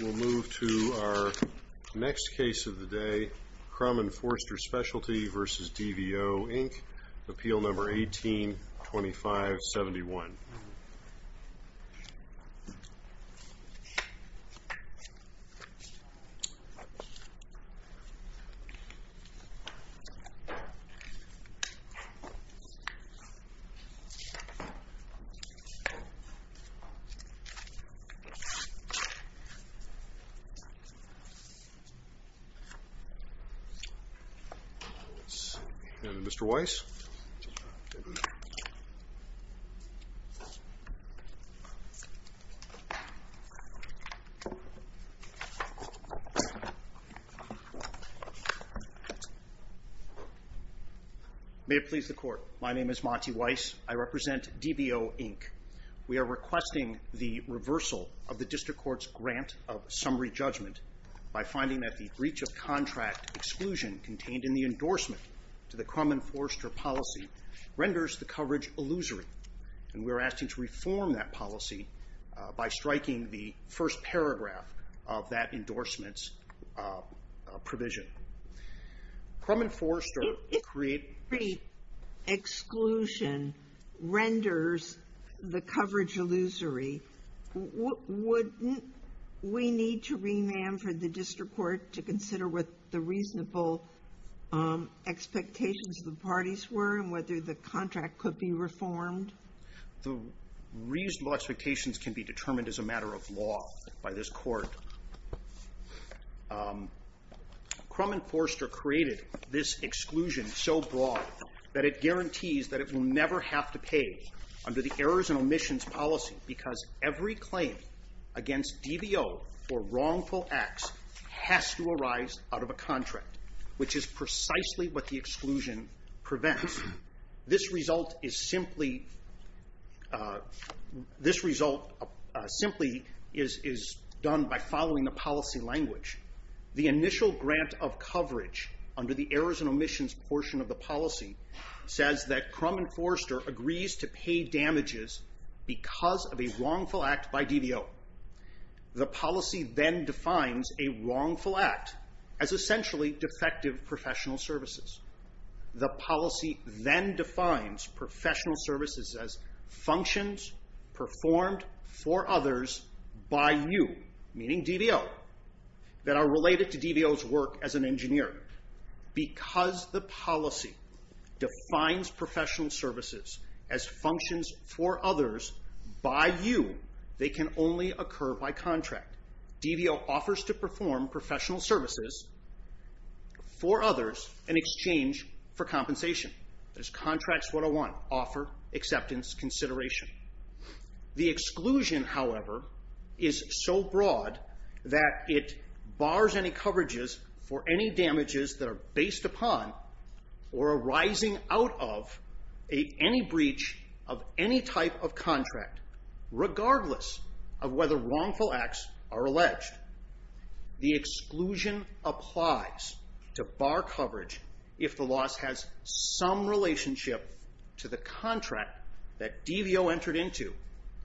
We'll move to our next case of the day, Crum & Forster Specialty vs. DVO, Inc. Appeal Number 18-2571. May it please the Court, my name is Monty Weiss. I represent DVO, Inc. We are requesting the reversal of the district court's grant of summary judgment by finding that the breach of contract exclusion contained in the endorsement to the Crum & Forster policy renders the coverage illusory. And we're asking to reform that policy by striking the first paragraph of that endorsement's provision. Crum & Forster creates- Exclusion renders the coverage illusory. Wouldn't we need to remand for the district court to consider what the reasonable expectations of the parties were and whether the contract could be reformed? The reasonable expectations can be determined as a matter of law by this court. Crum & Forster created this exclusion so broad that it guarantees that it will never have to pay under the errors and omissions policy because every claim against DVO for wrongful acts has to arise out of a contract, which is precisely what the exclusion prevents. This result is simply done by following the policy language. The initial grant of coverage under the errors and omissions portion of the policy says that Crum & Forster agrees to pay damages because of a wrongful act by DVO. The policy then defines a wrongful act as essentially defective professional services. The policy then defines professional services as functions performed for others by you, meaning DVO, that are related to DVO's work as an engineer. Because the policy defines professional services as functions for others by you, they can only occur by contract. DVO offers to perform professional services for others in exchange for compensation. This contract's what I want, offer, acceptance, consideration. The exclusion, however, is so broad that it bars any coverages for any damages that are based upon or arising out of any breach of any type of contract, regardless of whether wrongful acts are alleged. The exclusion applies to bar coverage if the loss has some relationship to the contract that DVO entered into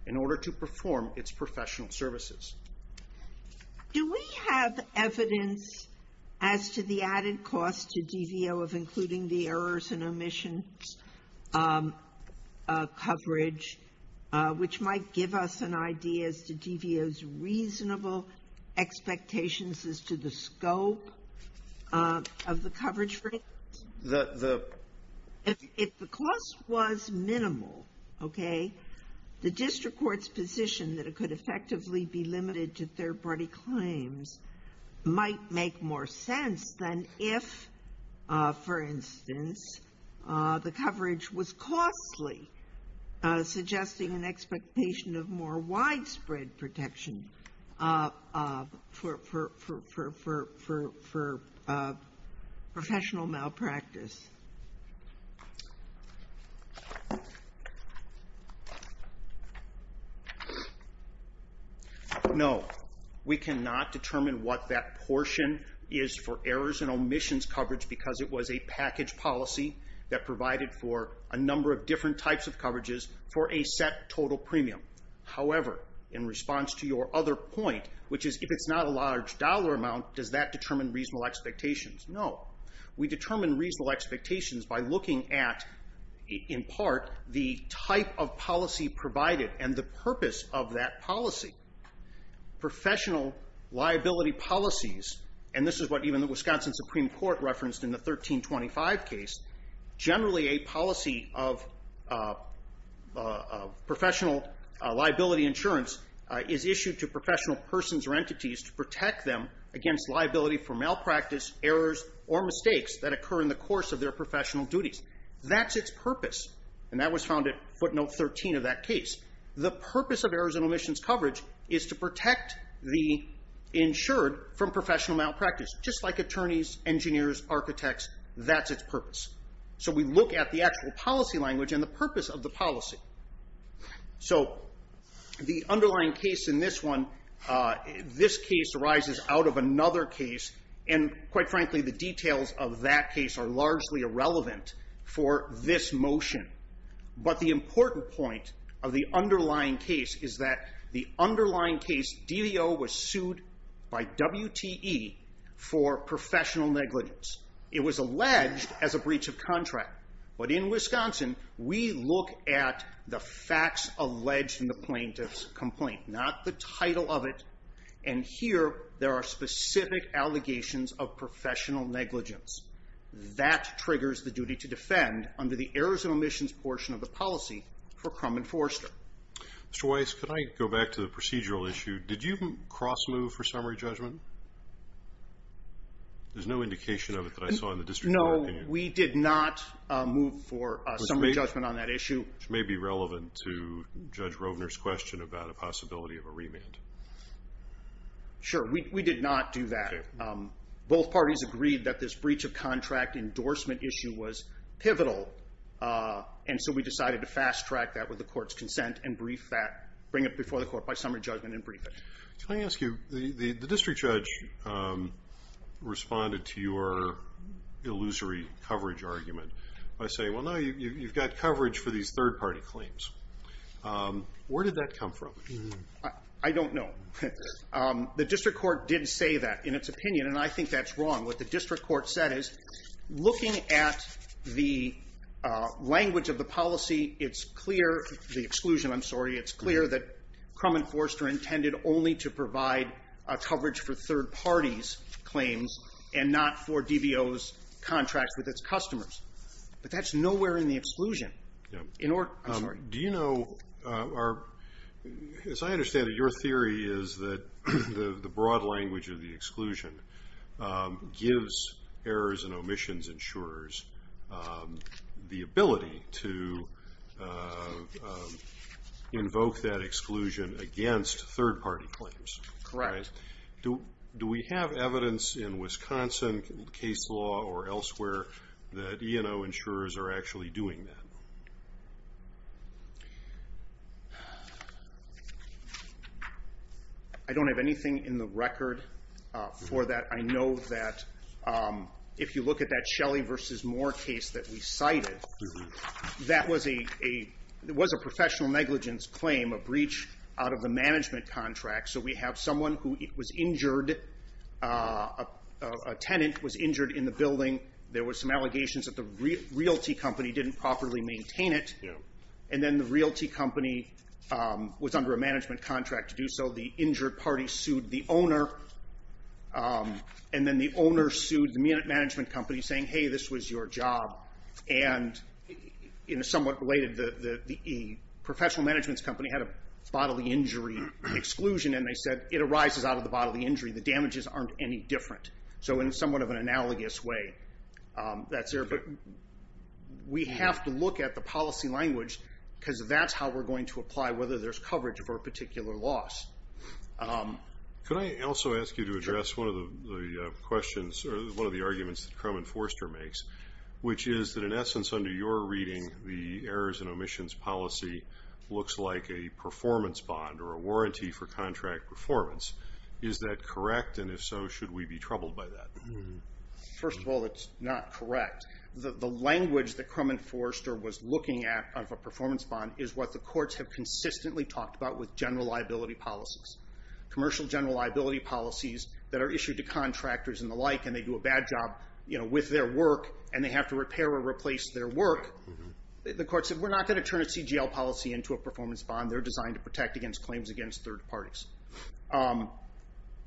in order to perform its professional services. Do we have evidence as to the added cost to DVO of including the errors and omissions coverage, which might give us an idea as to DVO's reasonable expectations as to the scope of the coverage for it? The If the cost was minimal, OK, the district court's position that it could effectively be limited to third party claims might make more sense than if, for instance, the coverage was costly, suggesting an expectation of more widespread protection for professional malpractice. No, we cannot determine what that portion is for errors and omissions coverage because it was a package policy that provided for a number of different types of coverages for a set total premium. However, in response to your other point, which is if it's not a large dollar amount, does that determine reasonable expectations? No. We determine reasonable expectations by looking at, in part, the type of policy provided and the purpose of that policy. Professional liability policies, and this is what even the Wisconsin Supreme Court referenced in the 1325 case, generally a policy of professional liability insurance is issued to professional persons or entities to protect them against liability for malpractice, errors, or mistakes that occur in the course of their professional duties. That's its purpose. And that was found at footnote 13 of that case. The purpose of errors and omissions coverage is to protect the insured from professional malpractice. Just like attorneys, engineers, architects, that's its purpose. So we look at the actual policy language and the purpose of the policy. So the underlying case in this one, this case arises out of another case. And quite frankly, the details of that case are largely irrelevant for this motion. But the important point of the underlying case is that the underlying case, DVO, was sued by WTE for professional negligence. It was alleged as a breach of contract. But in Wisconsin, we look at the facts alleged in the plaintiff's complaint, not the title of it. And here, there are specific allegations of professional negligence. That triggers the duty to defend under the errors and omissions portion of the policy for crumb enforcer. Mr. Weiss, could I go back to the procedural issue? Did you cross move for summary judgment? There's no indication of it that I saw in the district. No, we did not move for summary judgment on that issue. Which may be relevant to Judge Rovner's question about a possibility of a remand. Sure, we did not do that. Both parties agreed that this breach of contract endorsement issue was pivotal. And so we decided to fast track that with the court's consent and brief that, bring it before the court by summary judgment and brief it. Can I ask you, the district judge responded to your illusory coverage argument by saying, well, no, you've got coverage for these third party claims. Where did that come from? I don't know. The district court did say that in its opinion. And I think that's wrong. What the district court said is, looking at the language of the policy, it's clear, the exclusion, I'm sorry, it's clear that Crum and Forster intended only to provide coverage for third parties' claims and not for DBO's contracts with its customers. But that's nowhere in the exclusion. Do you know, as I understand it, your theory is that the broad language of the exclusion gives errors and omissions insurers the ability to invoke that exclusion against third party claims. Correct. Do we have evidence in Wisconsin case law or elsewhere that E&O insurers are actually doing that? I don't have anything in the record for that. I know that if you look at that Shelley versus Moore case that we cited, that was a professional negligence claim, a breach out of the management contract. So we have someone who was injured, a tenant was injured in the building. There were some allegations that the realty company didn't properly maintain it. And then the realty company was under a management contract to do so. The injured party sued the owner. And then the owner sued the management company, saying, hey, this was your job. And in a somewhat related, the professional management's company had a bodily injury exclusion. And they said, it arises out of the bodily injury. The damages aren't any different. So in somewhat of an analogous way, that's there. But we have to look at the policy language, because that's how we're going to apply whether there's coverage for a particular loss. Could I also ask you to address one of the questions, or one of the arguments that Crum and Forster makes, which is that in essence, under your reading, the errors and omissions policy looks like a performance bond or a warranty for contract performance. Is that correct? And if so, should we be troubled by that? First of all, it's not correct. The language that Crum and Forster was looking at of a performance bond is what the courts have consistently talked about with general liability policies. Commercial general liability policies that are issued to contractors and the like, and they do a bad job with their work, and they have to repair or replace their work, the court said, we're not going to turn a CGL policy into a performance bond. They're designed to protect against claims against third parties.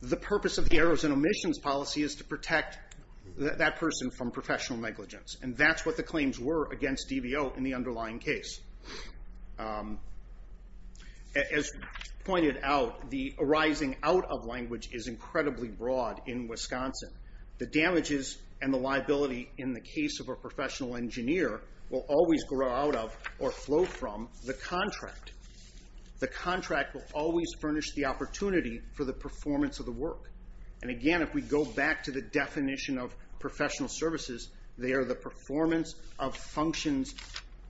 The purpose of the errors and omissions policy is to protect that person from professional negligence. And that's what the claims were against DVO in the underlying case. As pointed out, the arising out of language is incredibly broad in Wisconsin. The damages and the liability in the case of a professional engineer will always grow out of, or flow from, the contract. The contract will always furnish the opportunity for the performance of the work. And again, if we go back to the definition of professional services, they are the performance of functions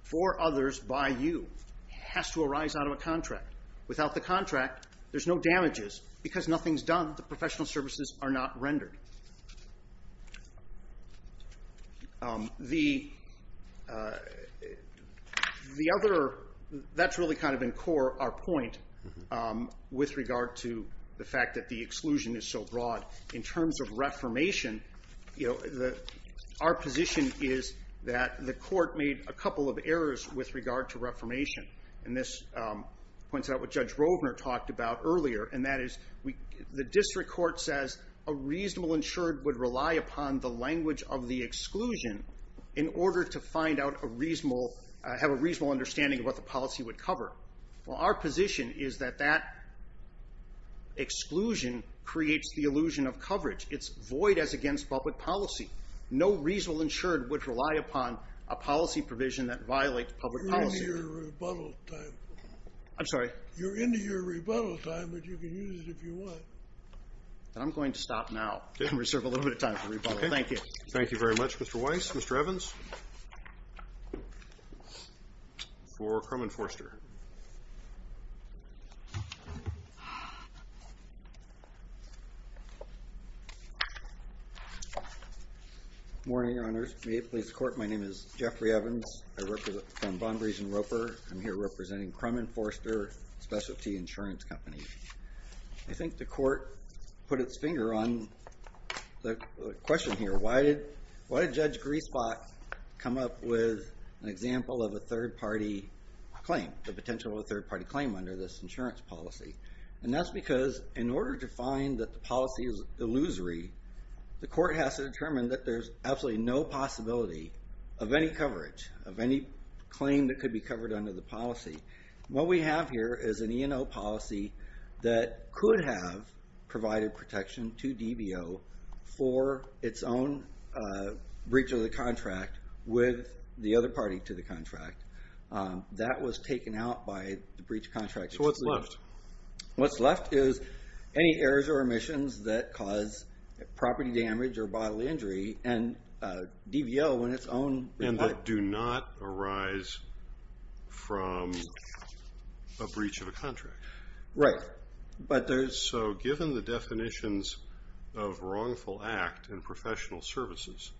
for others by you. Has to arise out of a contract. Without the contract, there's no damages. Because nothing's done, the professional services are not rendered. That's really kind of in core our point with regard to the fact that the exclusion is so broad. In terms of reformation, our position is that the court made a couple of errors with regard to reformation. And this points out what Judge Rovner talked about earlier. And that is the district court says a reasonable insured would rely upon the language of the exclusion in order to have a reasonable understanding of what the policy would cover. Well, our position is that that exclusion creates the illusion of coverage. It's void as against public policy. No reasonable insured would rely upon a policy provision that violates public policy. You're into your rebuttal time. I'm sorry? You're into your rebuttal time, but you can use it if you want. I'm going to stop now and reserve a little bit of time for rebuttal. Thank you. Thank you very much, Mr. Weiss. Mr. Evans for Crum and Forster. Morning, Your Honors. May it please the court, my name is Jeffrey Evans. I work from Bond Region Roper. I'm here representing Crum and Forster, a specialty insurance company. I think the court put its finger on the question here. Why did Judge Griesbach come up with an example of a third party claim, the potential of a third party claim under this insurance policy? And that's because in order to find that the policy is illusory, the court has to determine that there's absolutely no possibility of any coverage, of any claim that could be covered under the policy. What we have here is an E&O policy that could have provided protection to DBO for its own breach of the contract with the other party to the contract. That was taken out by the breach of contract. So what's left? What's left is any errors or omissions that cause property damage or bodily injury, and DBO in its own reply. And that do not arise from a breach of a contract. Right. But there's. So given the definitions of wrongful act and professional services,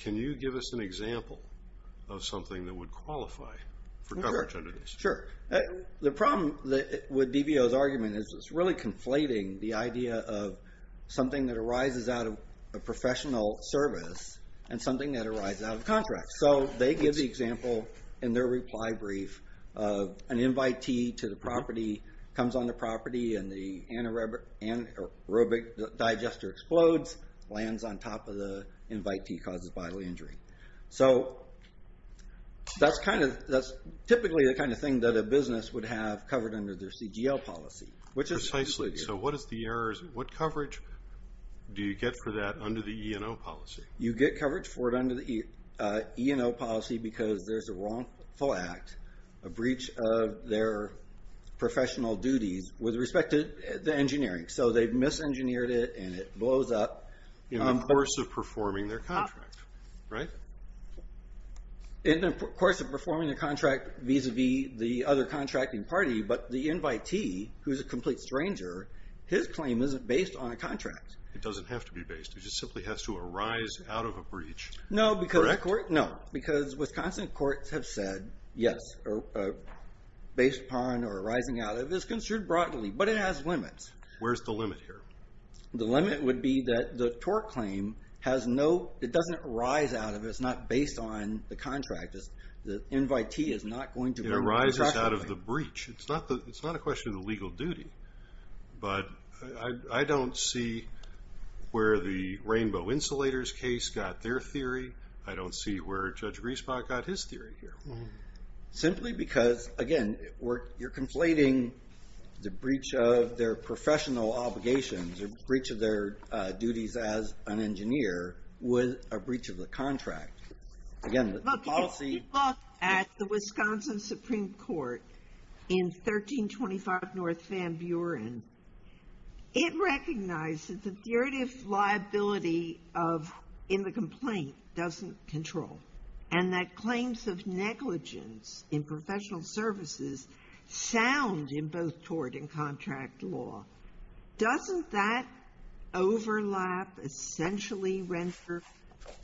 can you give us an example of something that would qualify for coverage under this? Sure. The problem with DBO's argument is it's really conflating the idea of something that arises out of a professional service and something that arises out of contracts. So they give the example in their reply brief of an invitee to the property, comes on the property, and the anaerobic digester explodes, lands on top of the invitee, causes bodily injury. So that's typically the kind of thing that a business would have covered under their CGL policy. Which is precisely. So what is the errors? What coverage do you get for that under the E&O policy? You get coverage for it under the E&O policy because there's a wrongful act, a breach of their professional duties with respect to the engineering. So they've misengineered it and it blows up. In the course of performing their contract, right? In the course of performing the contract vis-a-vis the other contracting party. But the invitee, who's a complete stranger, his claim isn't based on a contract. It doesn't have to be based. It just simply has to arise out of a breach. No, because Wisconsin courts have said, yes, based upon or arising out of is construed broadly. But it has limits. Where's the limit here? The limit would be that the tort claim has no, it doesn't arise out of it. It's not based on the contract. The invitee is not going to. It arises out of the breach. It's not a question of the legal duty. But I don't see where the rainbow insulators case got their theory. I don't see where Judge Riesbach got his theory here. Simply because, again, you're conflating the breach of their professional obligations, the breach of their duties as an engineer, with a breach of the contract. Again, the policy. Look, if you look at the Wisconsin Supreme Court in 1325 North Van Buren, it recognizes the derivative liability of, in the complaint, doesn't control. And that claims of negligence in professional services sound in both tort and contract law. Doesn't that overlap essentially render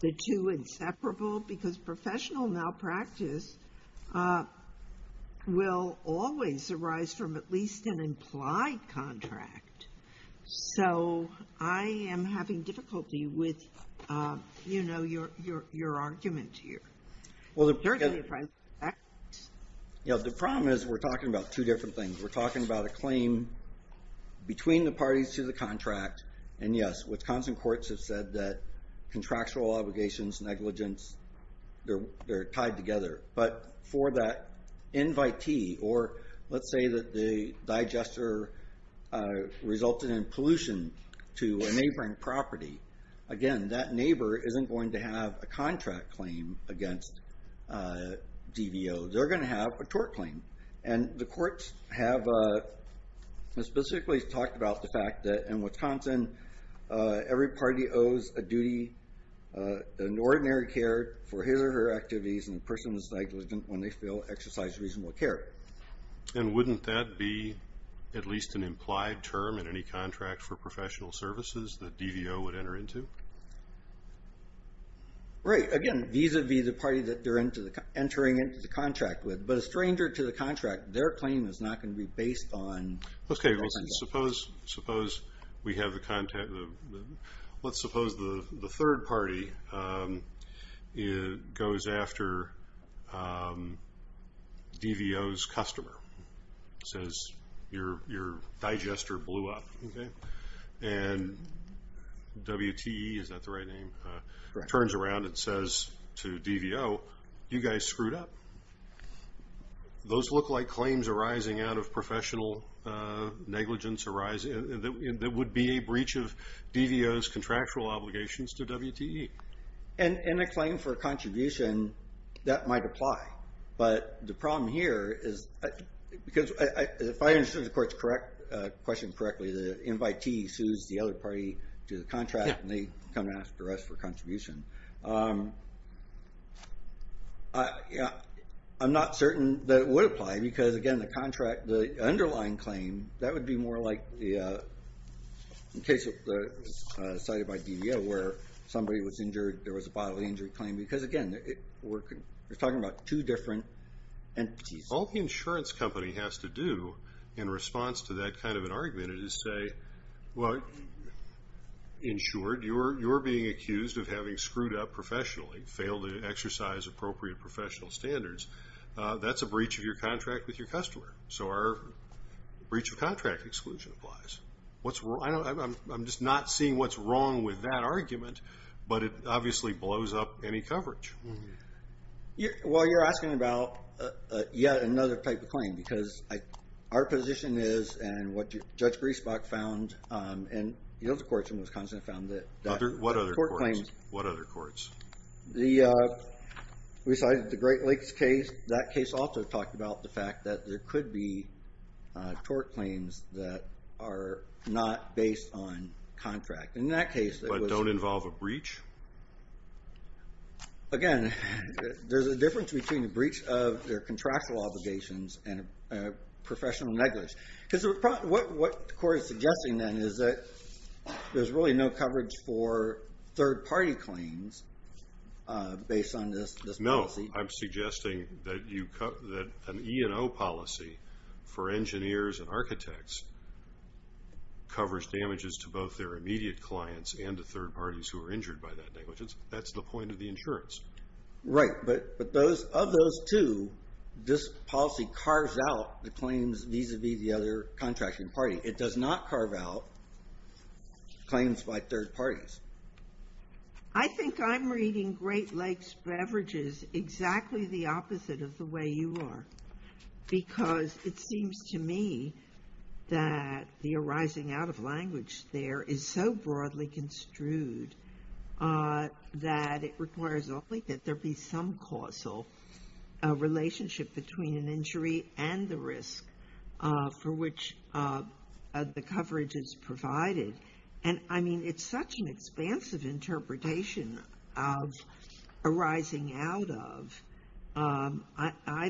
the two inseparable? Because professional malpractice will always arise from at least an implied contract. So, I am having difficulty with your argument here. Well, the problem is we're talking about two different things. We're talking about a claim between the parties to the contract. And yes, Wisconsin courts have said that contractual obligations, negligence, they're tied together. But for that invitee, or let's say that the digester resulted in pollution to a neighboring property, again, that neighbor isn't going to have a contract claim against DVO. They're gonna have a tort claim. And the courts have specifically talked about the fact that in Wisconsin, every party owes a duty, an ordinary care for his or her activities and the person is negligent when they feel exercised reasonable care. And wouldn't that be at least an implied term in any contract for professional services that DVO would enter into? Right, again, vis-a-vis the party that they're entering into the contract with. But a stranger to the contract, their claim is not gonna be based on Okay, well, suppose we have the contact, let's suppose the third party goes after DVO's customer, says your digester blew up, okay? And WTE, is that the right name, turns around and says to DVO, you guys screwed up. Those look like claims arising out of professional negligence that would be a breach of DVO's And a claim for a contribution, that might apply. But the problem here is, because if I understood the court's question correctly, the invitee sues the other party to the contract and they come and ask for us for a contribution. I'm not certain that it would apply because again, the contract, the underlying claim, that would be more like the case cited by DVO where somebody was injured, there was a bodily injury claim. Because again, we're talking about two different entities. All the insurance company has to do in response to that kind of an argument is say, well, insured, you're being accused of having screwed up professionally, failed to exercise appropriate professional standards. That's a breach of your contract with your customer. So our breach of contract exclusion applies. I'm just not seeing what's wrong with that argument, but it obviously blows up any coverage. Well, you're asking about yet another type of claim because our position is, and what Judge Griesbach found, and the other courts in Wisconsin found that. Other, what other court claims? What other courts? We cited the Great Lakes case. That case also talked about the fact that there could be tort claims that are not based on contract. In that case, it was. But don't involve a breach? Again, there's a difference between a breach of their contractual obligations and a professional negligence. Because what the court is suggesting then is that there's really no coverage for third party claims based on this policy. I'm suggesting that an E&O policy for engineers and architects covers damages to both their immediate clients and to third parties who are injured by that negligence. That's the point of the insurance. Right, but of those two, this policy carves out the claims vis-a-vis the other contracting party. It does not carve out claims by third parties. I think I'm reading Great Lakes Beverages exactly the opposite of the way you are. Because it seems to me that the arising out of language there is so broadly construed that it requires only that there be some causal relationship between an injury and the risk for which the coverage is provided. And I mean, it's such an expansive interpretation of arising out of, I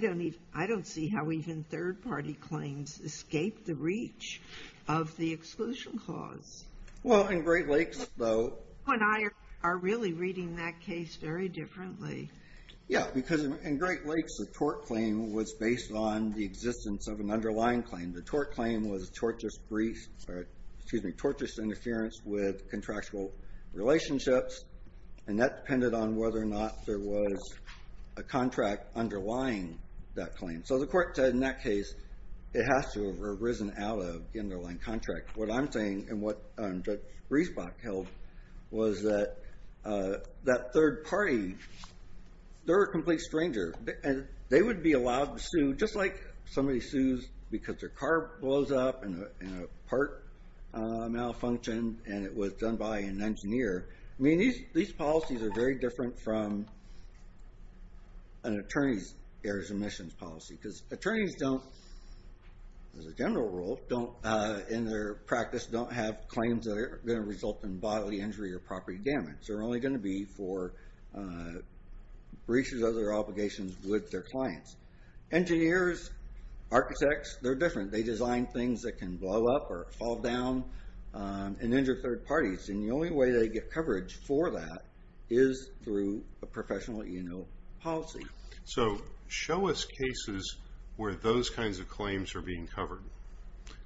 don't see how even third party claims escape the reach of the exclusion clause. Well, in Great Lakes though. When I are really reading that case very differently. Yeah, because in Great Lakes the tort claim was based on the existence of an underlying claim. And the tort claim was tortious interference with contractual relationships. And that depended on whether or not there was a contract underlying that claim. So the court said in that case, it has to have arisen out of an underlying contract. What I'm saying, and what Bruce Bach held, was that that third party, they're a complete stranger. They would be allowed to sue, just like somebody sues because their car blows up and a part malfunctioned and it was done by an engineer. I mean, these policies are very different from an attorney's errors omissions policy. Because attorneys don't, as a general rule, don't in their practice, don't have claims that are gonna result in bodily injury or property damage. They're only gonna be for breaches of their obligations with their clients. Engineers, architects, they're different. They design things that can blow up or fall down and injure third parties. And the only way they get coverage for that is through a professional E&O policy. So show us cases where those kinds of claims are being covered,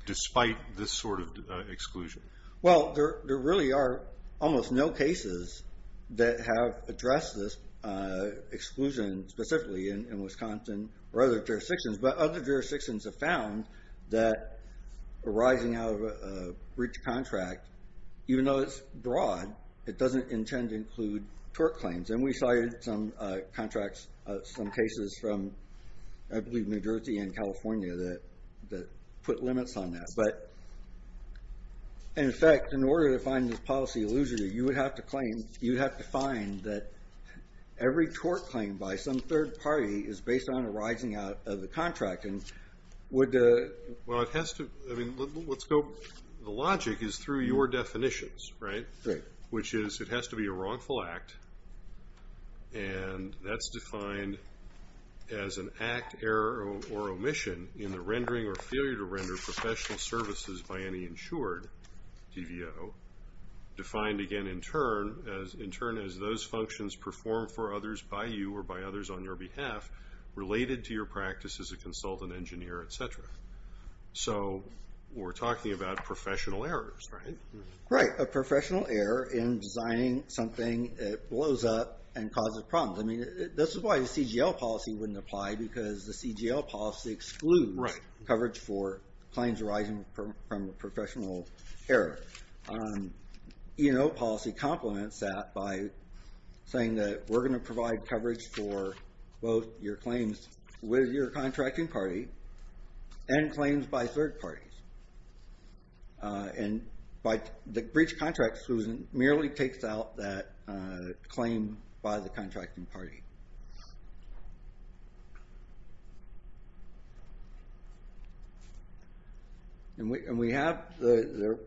despite this sort of exclusion. Well, there really are almost no cases that have addressed this exclusion specifically in Wisconsin or other jurisdictions. But other jurisdictions have found that arising out of a breach contract, even though it's broad, it doesn't intend to include tort claims. And we cited some contracts, some cases from, I believe, New Jersey and California that put limits on that. But in effect, in order to find this policy illusory, you would have to claim, you'd have to find that every tort claim by some third party is based on arising out of the contract. And would the... Well, it has to, I mean, let's go, the logic is through your definitions, right? Which is, it has to be a wrongful act. And that's defined as an act, error, or omission in the rendering or failure to render professional services by any insured TVO, defined again in turn as those functions performed for others by you or by others on your behalf related to your practice as a consultant engineer, et cetera. So we're talking about professional errors, right? Right, a professional error in designing something that blows up and causes problems. I mean, this is why the CGL policy wouldn't apply because the CGL policy excludes coverage for claims arising from a professional error. E&O policy complements that by saying that we're gonna provide coverage for both your claims with your contracting party and claims by third parties. And the breach contract exclusion merely takes out that claim by the contracting party. And we have the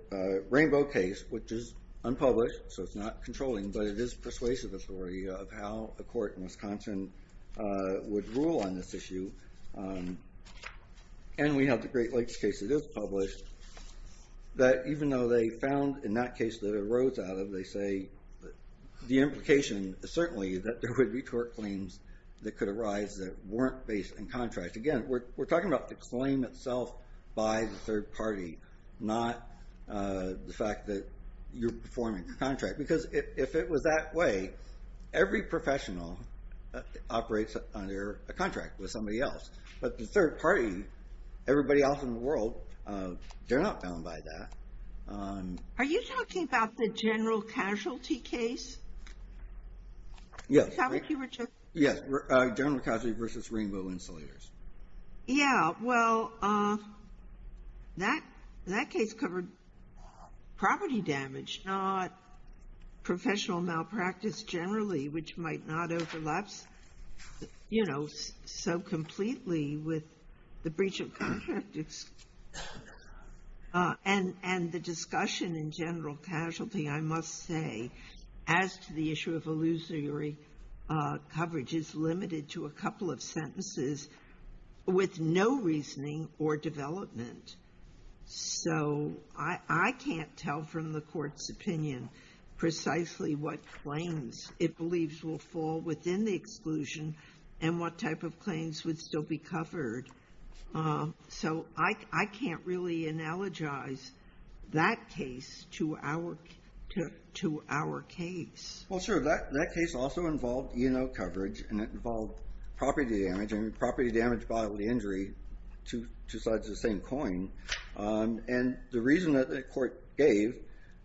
Rainbow case, which is unpublished, so it's not controlling, but it is persuasive of how a court in Wisconsin would rule on this issue. And we have the Great Lakes case that is published that even though they found in that case that it arose out of, they say the implication certainly that there would be court claims that could arise that weren't based in contract. Again, we're talking about the claim itself by the third party, not the fact that you're performing the contract. Because if it was that way, every professional operates under a contract with somebody else. But the third party, everybody else in the world, they're not bound by that. Are you talking about the General Casualty case? Is that what you were just? Yes, General Casualty versus Rainbow Insulators. Yeah, well, that case covered property damage, not professional malpractice generally, which might not overlaps so completely with the breach of contract exclusion. And the discussion in General Casualty, I must say, as to the issue of illusory coverage is limited to a couple of sentences with no reasoning or development. So I can't tell from the court's opinion precisely what claims it believes will fall within the exclusion and what type of claims would still be covered. So I can't really analogize that case to our case. Well, sure, that case also involved E&O coverage and it involved property damage. I mean, property damage, bodily injury, two sides of the same coin. And the reason that the court gave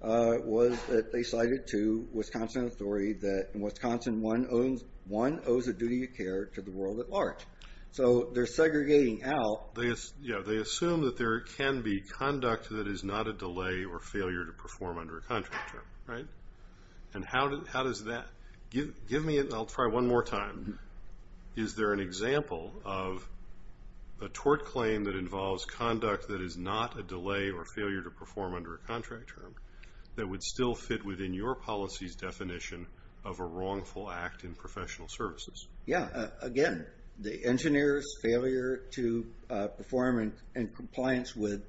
was that they cited to Wisconsin authority to the world at large. So they're segregating out. Yeah, they assume that there can be conduct that is not a delay or failure to perform under a contract term, right? And how does that, give me, I'll try one more time. Is there an example of a tort claim that involves conduct that is not a delay or failure to perform under a contract term that would still fit within your policy's definition of a wrongful act in professional services? Yeah, again, the engineer's failure to perform in compliance with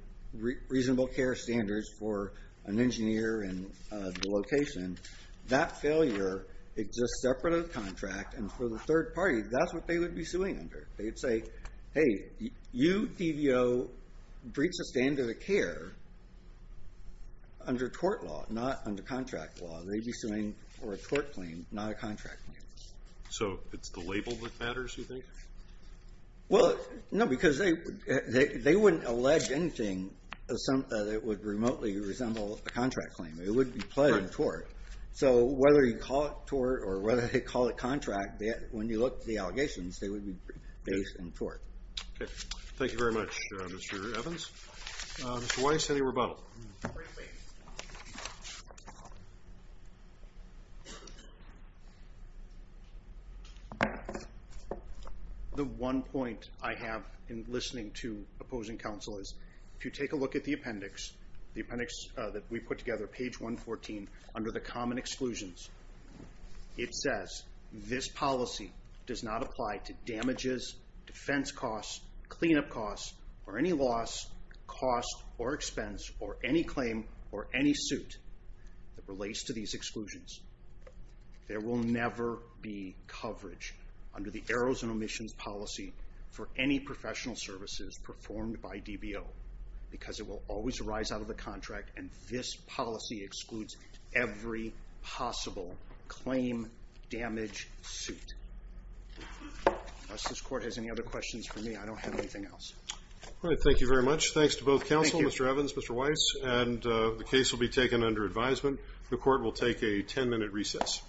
reasonable care standards for an engineer and the location, that failure exists separate of the contract and for the third party, that's what they would be suing under. They would say, hey, you, TVO, breach the standard of care under tort law, not under contract law. They'd be suing for a tort claim, not a contract claim. So it's the label that matters, you think? Well, no, because they wouldn't allege anything that would remotely resemble a contract claim. It wouldn't be pledged in tort. So whether you call it tort or whether they call it contract, when you look at the allegations, they would be based in tort. Okay, thank you very much, Mr. Evans. Mr. Weiss, any rebuttal? The one point I have in listening to opposing counsel is if you take a look at the appendix, the appendix that we put together, page 114, under the common exclusions, it says this policy does not apply to damages, defense costs, cleanup costs, or any loss, cost or expense or any claim or any suit that relates to these exclusions. There will never be coverage under the errors and omissions policy for any professional services performed by DBO because it will always arise out of the contract and this policy excludes every possible claim damage suit. Unless this court has any other questions for me, I don't have anything else. All right, thank you very much. Thanks to both counsel, Mr. Evans, Mr. Weiss, and the case will be taken under advisement. The court will take a 10 minute recess.